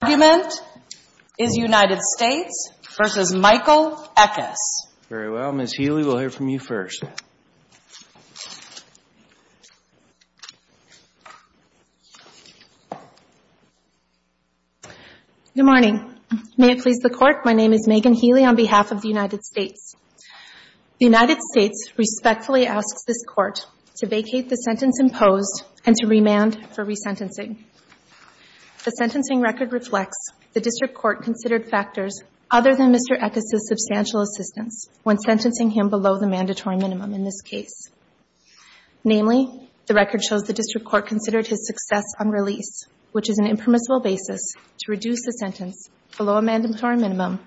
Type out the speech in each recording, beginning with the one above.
The argument is United States v. Michael Eckis. Very well. Ms. Healy, we'll hear from you first. Good morning. May it please the Court, my name is Megan Healy on behalf of the United States. The United States respectfully asks this Court to vacate the sentence imposed and to remand for resentencing. The sentencing record reflects the District Court considered factors other than Mr. Eckis' substantial assistance when sentencing him below the mandatory minimum in this case. Namely, the record shows the District Court considered his success on release, which is an impermissible basis to reduce the sentence below a mandatory minimum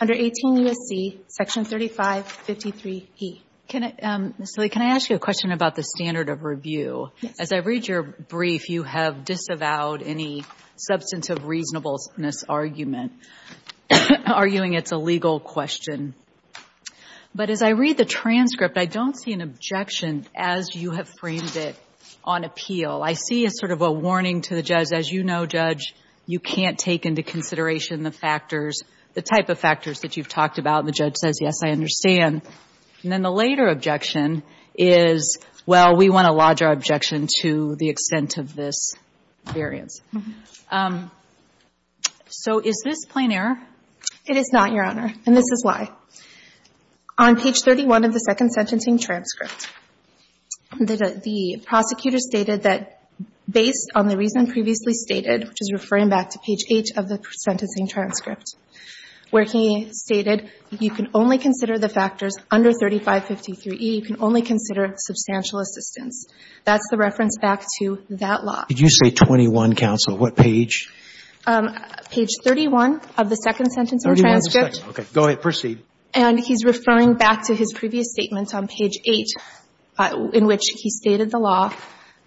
under 18 U.S.C. section 3553e. Ms. Healy, can I ask you a question about the standard of review? Yes. As I read your brief, you have disavowed any substantive reasonableness argument, arguing it's a legal question. But as I read the transcript, I don't see an objection as you have framed it on appeal. I see a sort of a warning to the judge, as you know, Judge, you can't take into consideration the factors, the type of factors that you've talked about, and the judge says, yes, I understand. And then the later objection is, well, we want a larger objection to the extent of this variance. So is this plain error? It is not, Your Honor, and this is why. On page 31 of the second sentencing transcript, the prosecutor stated that based on the reason previously stated, which is referring back to page 8 of the sentencing transcript, where he stated, you can only consider the factors under 3553e. You can only consider substantial assistance. That's the reference back to that law. Did you say 21, counsel? What page? Page 31 of the second sentencing transcript. 31 of the second. Okay. Go ahead. Proceed. And he's referring back to his previous statement on page 8, in which he stated the law,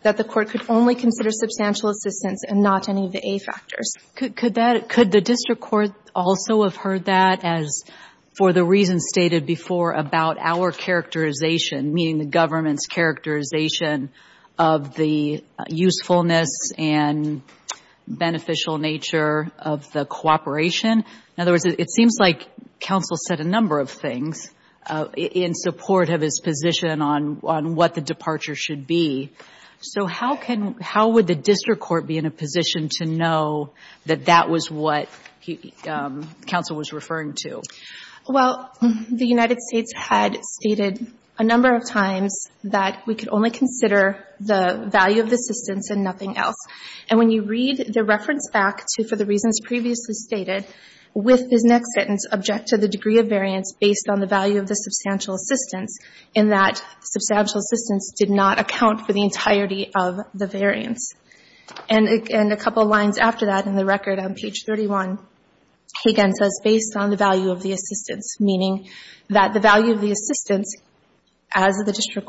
that the Court could only consider substantial assistance and not any of the A factors. Could the district court also have heard that as for the reasons stated before about our characterization, meaning the government's characterization of the usefulness and beneficial nature of the cooperation? In other words, it seems like counsel said a number of things in support of his position on what the departure should be. So how would the district court be in a position to know that that was what counsel was referring to? Well, the United States had stated a number of times that we could only consider the value of the assistance and nothing else. And when you read the reference back to for the reasons previously stated, with his next sentence object to the degree of variance based on the value of the substantial assistance, in that substantial assistance did not account for the entirety of the variance. And a couple of lines after that in the record on page 31, he again says based on the value of the assistance, meaning that the value of the assistance, as the district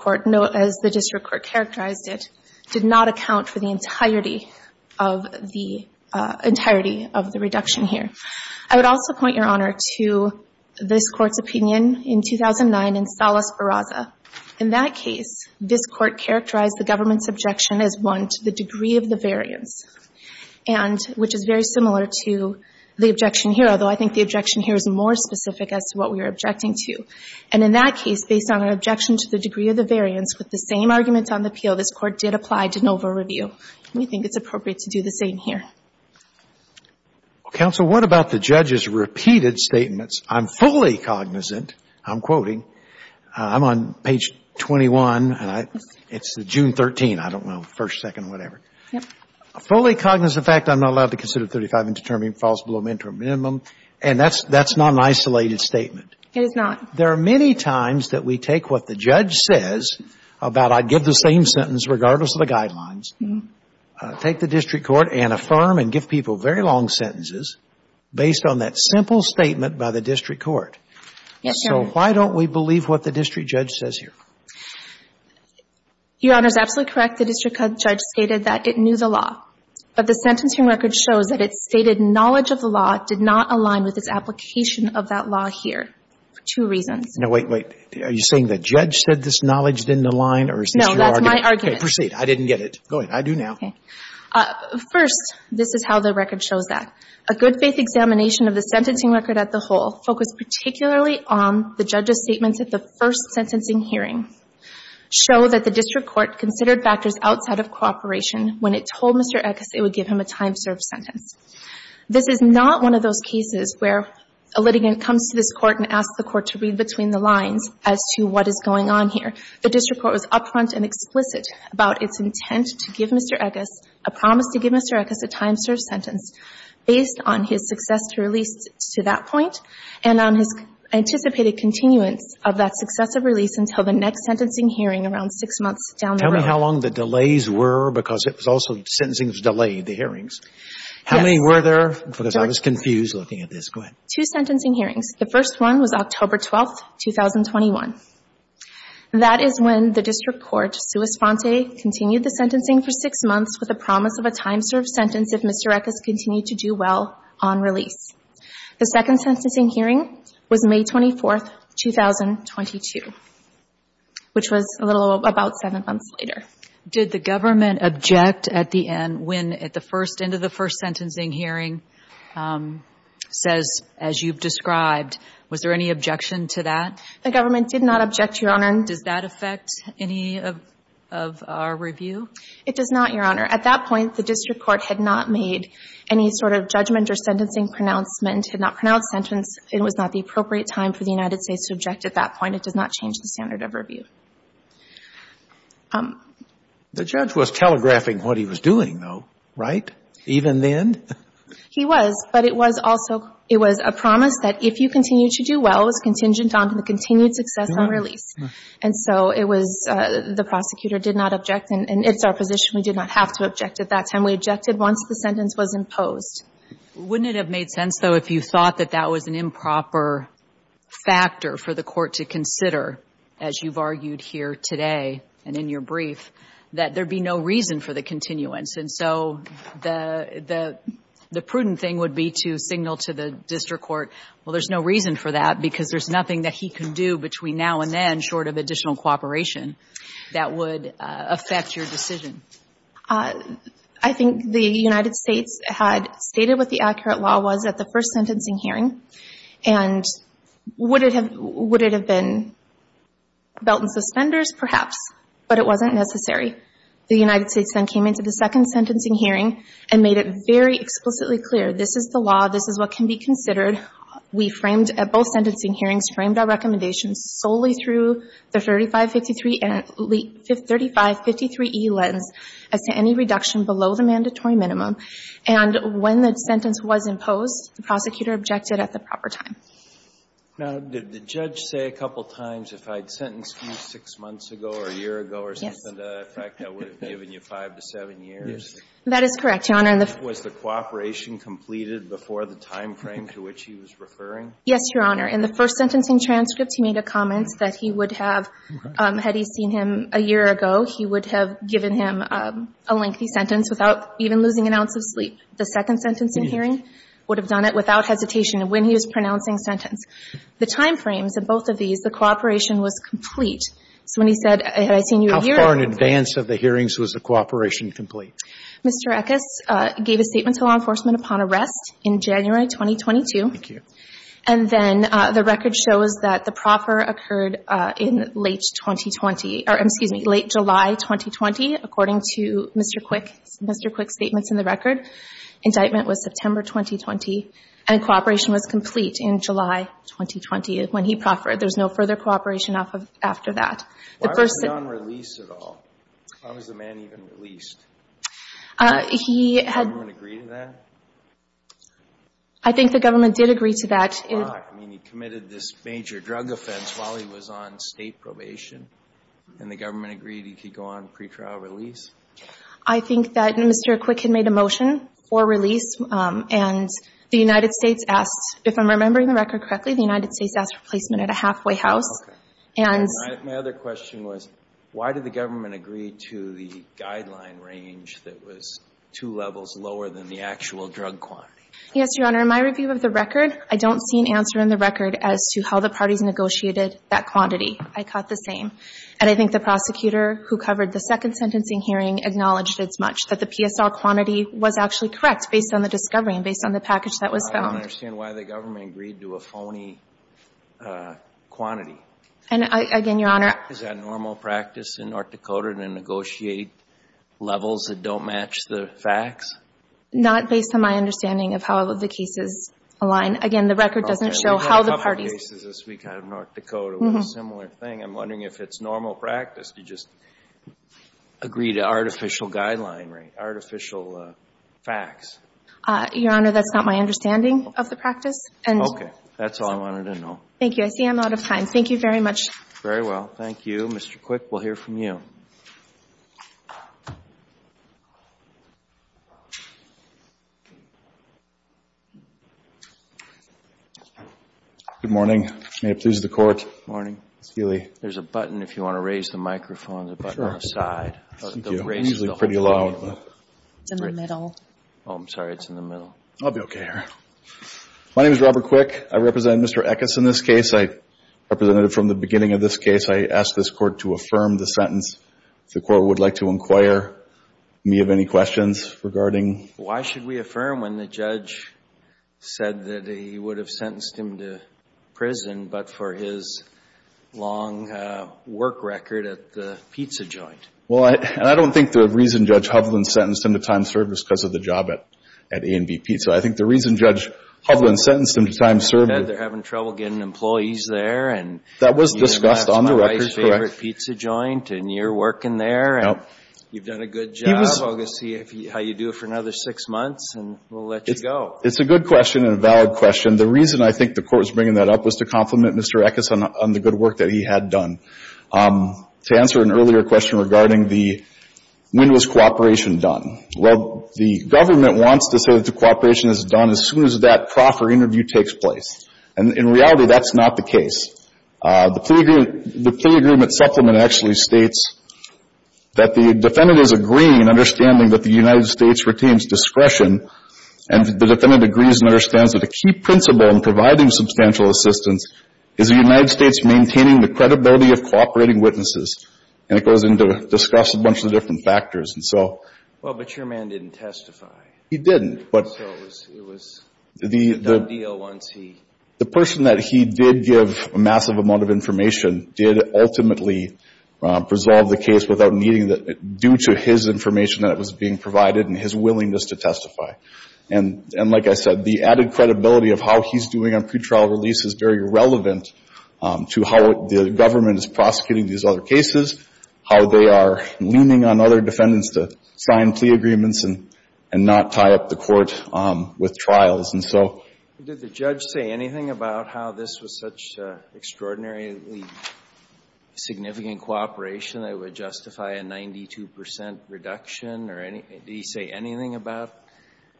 court characterized it, did not account for the entirety of the reduction here. I would also point, Your Honor, to this Court's opinion in 2009 in Salas-Barraza. In that case, this Court characterized the government's objection as one to the degree of the variance, and which is very similar to the objection here, although I think the objection here is more specific as to what we are objecting to. And in that case, based on our objection to the degree of the variance, with the same arguments on the appeal, this Court did apply de novo review. We think it's appropriate to do the same here. Well, counsel, what about the judge's repeated statements? I'm fully cognizant, I'm quoting. I'm on page 21, and it's June 13. I don't know, first, second, whatever. Yep. Fully cognizant of the fact I'm not allowed to consider 35 and determine false below mentor minimum. And that's not an isolated statement. It is not. There are many times that we take what the judge says about I'd give the same sentence regardless of the guidelines, take the district court and affirm and give people very long sentences based on that simple statement by the district court. Yes, Your Honor. So why don't we believe what the district judge says here? Your Honor is absolutely correct. The district judge stated that it knew the law. But the sentencing record shows that it stated knowledge of the law did not align with its application of that law here for two reasons. Now, wait, wait. Are you saying the judge said this knowledge didn't align, or is this your argument? No, that's my argument. Okay. Proceed. I didn't get it. Go ahead. I do now. Okay. First, this is how the record shows that. A good faith examination of the sentencing record at the whole focused particularly on the judge's statements at the first sentencing hearing show that the district court considered factors outside of cooperation when it told Mr. Eckes it would give him a time-served sentence. This is not one of those cases where a litigant comes to this court and asks the court to read between the lines as to what is going on here. The district court was upfront and explicit about its intent to give Mr. Eckes, a promise to give Mr. Eckes a time-served sentence based on his success to release to that point and on his anticipated continuance of that successive release until the next sentencing hearing around six months down the road. Tell me how long the delays were because it was also sentencing was delayed, the hearings. Yes. How many were there? Because I was confused looking at this. Go ahead. Two sentencing hearings. The first one was October 12th, 2021. That is when the district court, sua sponte, continued the sentencing for six months with a promise of a time-served sentence if Mr. Eckes continued to do well on release. The second sentencing hearing was May 24th, 2022, which was a little about seven months later. Did the government object at the end when at the first end of the first sentencing hearing says, as you've described, was there any objection to that? The government did not object, Your Honor. Does that affect any of our review? It does not, Your Honor. At that point, the district court had not made any sort of judgment or sentencing pronouncement, had not pronounced sentence. It was not the appropriate time for the United States to object at that point. It does not change the standard of review. The judge was telegraphing what he was doing, though, right, even then? He was. It was a promise that if you continue to do well, it's contingent on the continued success on release. And so it was the prosecutor did not object, and it's our position we did not have to object at that time. We objected once the sentence was imposed. Wouldn't it have made sense, though, if you thought that that was an improper factor for the court to consider, as you've argued here today and in your brief, that there'd be no reason for the continuance? And so the prudent thing would be to signal to the district court, well, there's no reason for that because there's nothing that he can do between now and then short of additional cooperation that would affect your decision. I think the United States had stated what the accurate law was at the first sentencing hearing, and would it have been belt and suspenders? Perhaps. But it wasn't necessary. The United States then came into the second sentencing hearing and made it very explicitly clear, this is the law, this is what can be considered. We framed at both sentencing hearings, framed our recommendations solely through the 3553E lens as to any reduction below the mandatory minimum. And when the sentence was imposed, the prosecutor objected at the proper time. Now, did the judge say a couple times if I'd sentenced you 6 months ago or a year ago or something like that, in fact, I would have given you 5 to 7 years? That is correct, Your Honor. Was the cooperation completed before the time frame to which he was referring? Yes, Your Honor. In the first sentencing transcript, he made a comment that he would have, had he seen him a year ago, he would have given him a lengthy sentence without even losing an ounce of sleep. The second sentencing hearing would have done it without hesitation when he was pronouncing sentence. The time frames of both of these, the cooperation was complete. So when he said, had I seen you a year ago? How far in advance of the hearings was the cooperation complete? Mr. Eckes gave a statement to law enforcement upon arrest in January 2022. Thank you. And then the record shows that the proffer occurred in late 2020 or, excuse me, late July 2020, according to Mr. Quick's statements in the record. Indictment was September 2020. And cooperation was complete in July 2020 when he proffered. There's no further cooperation after that. Why was he on release at all? Why was the man even released? Did the government agree to that? I think the government did agree to that. I mean, he committed this major drug offense while he was on state probation. And the government agreed he could go on pretrial release. I think that Mr. Quick had made a motion for release. And the United States asked, if I'm remembering the record correctly, the United States asked for placement at a halfway house. Okay. And my other question was, why did the government agree to the guideline range that was two levels lower than the actual drug quantity? Yes, Your Honor, in my review of the record, I don't see an answer in the record as to how the parties negotiated that quantity. I caught the same. And I think the prosecutor who covered the second sentencing hearing acknowledged as much, that the PSR quantity was actually correct based on the discovery and based on the package that was found. I don't understand why the government agreed to a phony quantity. And, again, Your Honor – Is that normal practice in North Dakota to negotiate levels that don't match the facts? Not based on my understanding of how the cases align. Again, the record doesn't show how the parties – That's a different thing. I'm wondering if it's normal practice to just agree to artificial guideline rate, artificial facts. Your Honor, that's not my understanding of the practice. Okay. That's all I wanted to know. Thank you. I see I'm out of time. Thank you very much. Very well. Mr. Quick, we'll hear from you. Good morning. May it please the Court. Good morning. Ms. Keeley. There's a button if you want to raise the microphone. Sure. The button on the side. Thank you. It's usually pretty low. It's in the middle. Oh, I'm sorry. It's in the middle. I'll be okay here. My name is Robert Quick. I represent Mr. Eckes in this case. I represented him from the beginning of this case. I ask this Court to affirm the sentence. If the Court would like to inquire me of any questions regarding – Why should we affirm when the judge said that he would have sentenced him to prison but for his long work record at the pizza joint? Well, I don't think the reason Judge Hovland sentenced him to time served was because of the job at A&B Pizza. I think the reason Judge Hovland sentenced him to time served – They're having trouble getting employees there. That was discussed on the record, correct? My favorite pizza joint, and you're working there, and you've done a good job. I'm going to see how you do it for another six months, and we'll let you go. It's a good question and a valid question. The reason I think the Court was bringing that up was to compliment Mr. Eckes on the good work that he had done. To answer an earlier question regarding the – when was cooperation done? Well, the government wants to say that the cooperation is done as soon as that proper interview takes place. And in reality, that's not the case. The plea agreement supplement actually states that the defendant is agreeing and understanding that the United States retains discretion, and the defendant agrees and understands that a key principle in providing substantial assistance is the United States maintaining the credibility of cooperating witnesses. And it goes into – discusses a bunch of the different factors. And so – Well, but your man didn't testify. He didn't, but – So it was a done deal once he – The person that he did give a massive amount of information did ultimately resolve the case without needing – And like I said, the added credibility of how he's doing on pretrial release is very relevant to how the government is prosecuting these other cases, how they are leaning on other defendants to sign plea agreements and not tie up the Court with trials. And so – Did the judge say anything about how this was such extraordinarily significant cooperation that it would justify a 92 percent reduction? Did he say anything about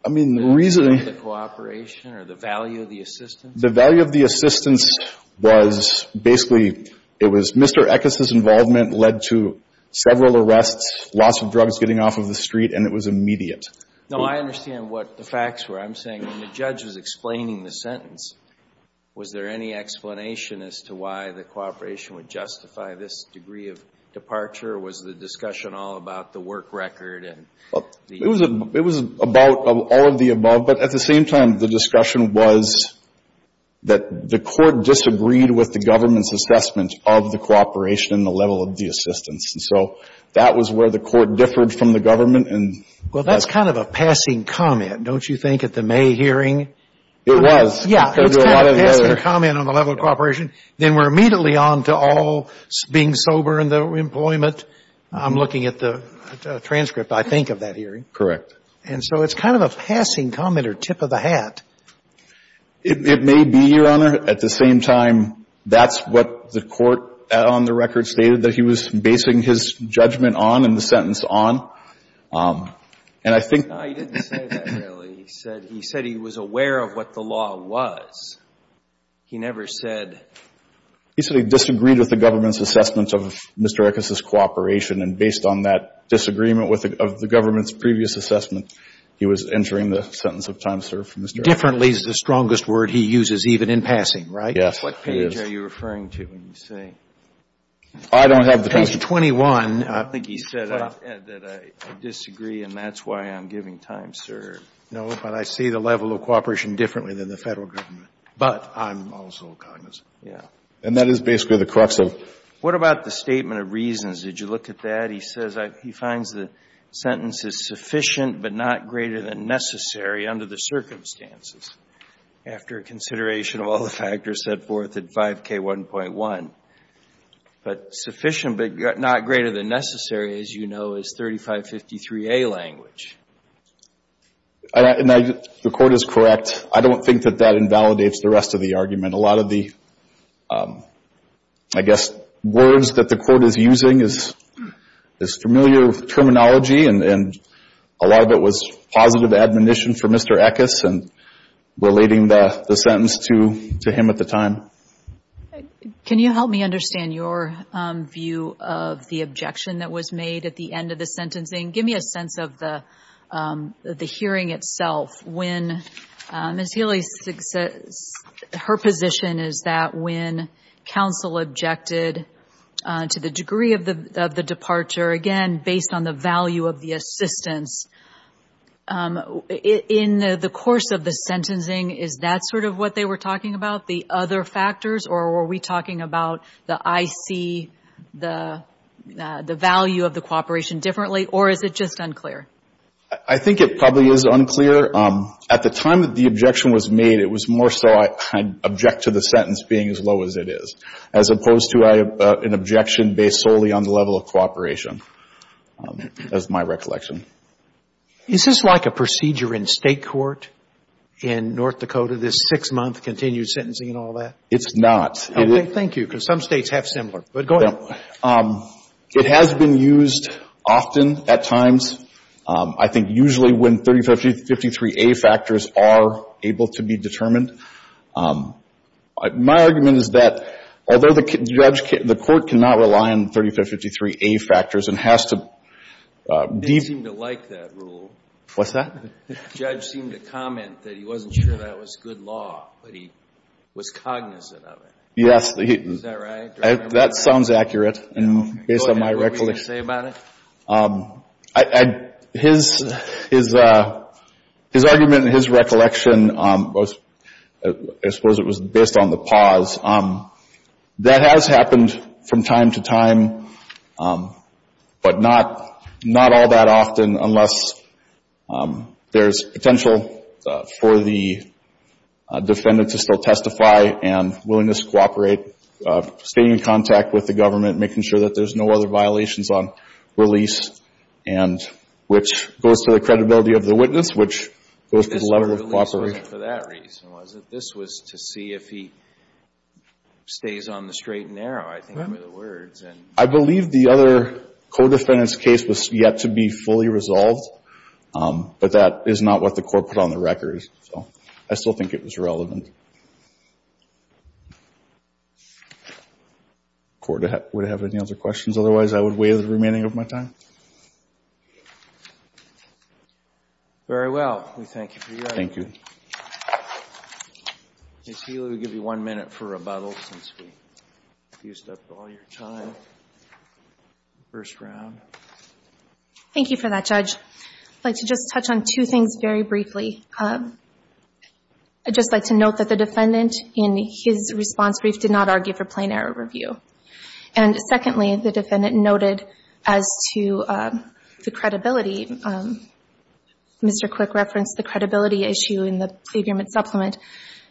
the cooperation or the value of the assistance? The value of the assistance was basically – it was Mr. Eckes' involvement led to several arrests, lots of drugs getting off of the street, and it was immediate. No, I understand what the facts were. I'm saying when the judge was explaining the sentence, was there any explanation as to why the cooperation would justify this degree of departure? Or was the discussion all about the work record and the – It was about all of the above, but at the same time, the discussion was that the Court disagreed with the government's assessment of the cooperation and the level of the assistance. And so that was where the Court differed from the government and – Well, that's kind of a passing comment, don't you think, at the May hearing? It was. Yeah, it's kind of a passing comment on the level of cooperation. Then we're immediately on to all being sober and the employment. I'm looking at the transcript, I think, of that hearing. Correct. And so it's kind of a passing comment or tip of the hat. It may be, Your Honor. At the same time, that's what the Court on the record stated, that he was basing his judgment on and the sentence on. And I think – No, he didn't say that, really. He said he was aware of what the law was. He never said – He said he disagreed with the government's assessment of Mr. Eckes' cooperation. And based on that disagreement of the government's previous assessment, he was entering the sentence of time served for Mr. Eckes. Differently is the strongest word he uses, even in passing, right? Yes, it is. What page are you referring to when you say – I don't have the page. Page 21. I think he said that I disagree and that's why I'm giving time served. No, but I see the level of cooperation differently than the Federal Government. But I'm also cognizant. Yeah. And that is basically the crux of – What about the statement of reasons? Did you look at that? He says he finds the sentence is sufficient but not greater than necessary under the circumstances, after consideration of all the factors set forth at 5K1.1. But sufficient but not greater than necessary, as you know, is 3553A language. The court is correct. I don't think that that invalidates the rest of the argument. A lot of the, I guess, words that the court is using is familiar terminology and a lot of it was positive admonition for Mr. Eckes and relating the sentence to him at the time. Can you help me understand your view of the objection that was made at the end of the sentencing? Give me a sense of the hearing itself. Ms. Healy, her position is that when counsel objected to the degree of the departure, again, based on the value of the assistance, in the course of the sentencing, is that sort of what they were talking about, the other factors? Or were we talking about the IC, the value of the cooperation differently? Or is it just unclear? I think it probably is unclear. At the time that the objection was made, it was more so I object to the sentence being as low as it is, as opposed to an objection based solely on the level of cooperation, is my recollection. Is this like a procedure in State court in North Dakota, this six-month continued sentencing and all that? It's not. Thank you, because some States have similar. But go ahead. It has been used often at times. I think usually when 3553A factors are able to be determined. My argument is that although the court cannot rely on 3553A factors and has to deem to like that rule. What's that? The judge seemed to comment that he wasn't sure that was good law, but he was cognizant of it. Yes. Is that right? That sounds accurate, based on my recollection. Go ahead. What were you going to say about it? His argument and his recollection was, I suppose it was based on the pause. That has happened from time to time, but not all that often, unless there's potential for the defendant to still testify and willingness to cooperate, staying in contact with the government, making sure that there's no other violations on release, and which goes to the credibility of the witness, which goes to the level of cooperation. It wasn't for that reason, was it? This was to see if he stays on the straight and narrow, I think were the words. I believe the other co-defendant's case was yet to be fully resolved, but that is not what the court put on the record. So I still think it was relevant. Court, would you have any other questions? Otherwise, I would waive the remaining of my time. Very well. We thank you for your time. Thank you. Ms. Healy, we'll give you one minute for rebuttal, since we've used up all your time. First round. Thank you for that, Judge. I'd like to just touch on two things very briefly. I'd just like to note that the defendant in his response brief did not argue for plain error review. And secondly, the defendant noted as to the credibility. Mr. Quick referenced the credibility issue in the agreement supplement.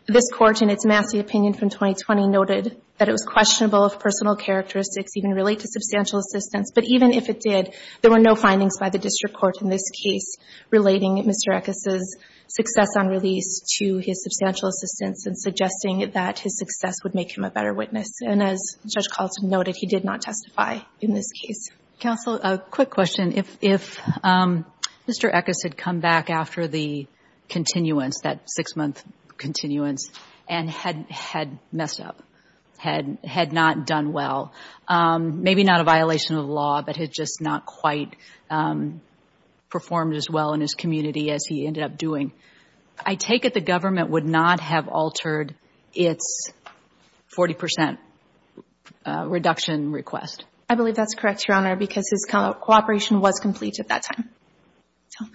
This Court, in its Massey opinion from 2020, noted that it was questionable if personal characteristics even relate to substantial assistance. But even if it did, there were no findings by the district court in this case relating Mr. Eckes' success on release to his substantial assistance and suggesting that his success would make him a better witness. And as Judge Carlson noted, he did not testify in this case. Counsel, a quick question. If Mr. Eckes had come back after the continuance, that six-month continuance, and had messed up, had not done well, maybe not a violation of the law, but had just not quite performed as well in his community as he ended up doing, I take it the government would not have altered its 40 percent reduction request? I believe that's correct, Your Honor, because his cooperation was complete at that time. So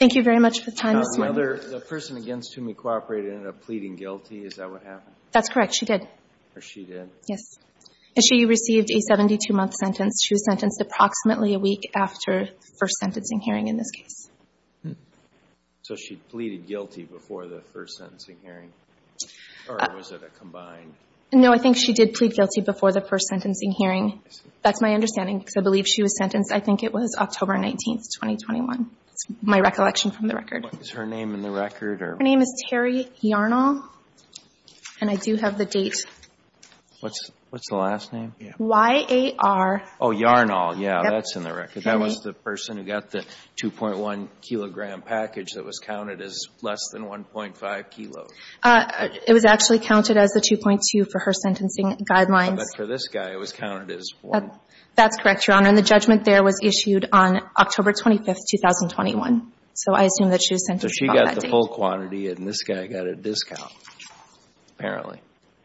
thank you very much for the time this morning. Now, whether the person against whom he cooperated ended up pleading guilty, is that what happened? That's correct. She did. Or she did. Yes. And she received a 72-month sentence. She was sentenced approximately a week after the first sentencing hearing in this case. So she pleaded guilty before the first sentencing hearing? Or was it a combined? No, I think she did plead guilty before the first sentencing hearing. That's my understanding, because I believe she was sentenced, I think it was October 19th, 2021. That's my recollection from the record. Is her name in the record? Her name is Terry Yarnall, and I do have the date. What's the last name? Y-A-R. Oh, Yarnall. Yeah, that's in the record. That was the person who got the 2.1-kilogram package that was counted as less than 1.5 kilos. It was actually counted as the 2.2 for her sentencing guidelines. But for this guy, it was counted as 1. That's correct, Your Honor. And the judgment there was issued on October 25th, 2021. So I assume that she was sentenced about that date. So she got the whole quantity, and this guy got a discount, apparently.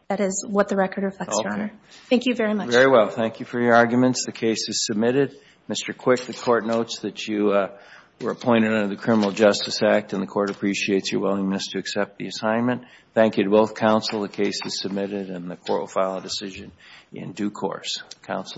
That is what the record reflects, Your Honor. Okay. Thank you very much. Very well. Thank you for your arguments. The case is submitted. Mr. Quick, the Court notes that you were appointed under the Criminal Justice Act, and the Court appreciates your willingness to accept the assignment. Thank you to both counsel. The case is submitted, and the Court will file a decision in due course. Counselor.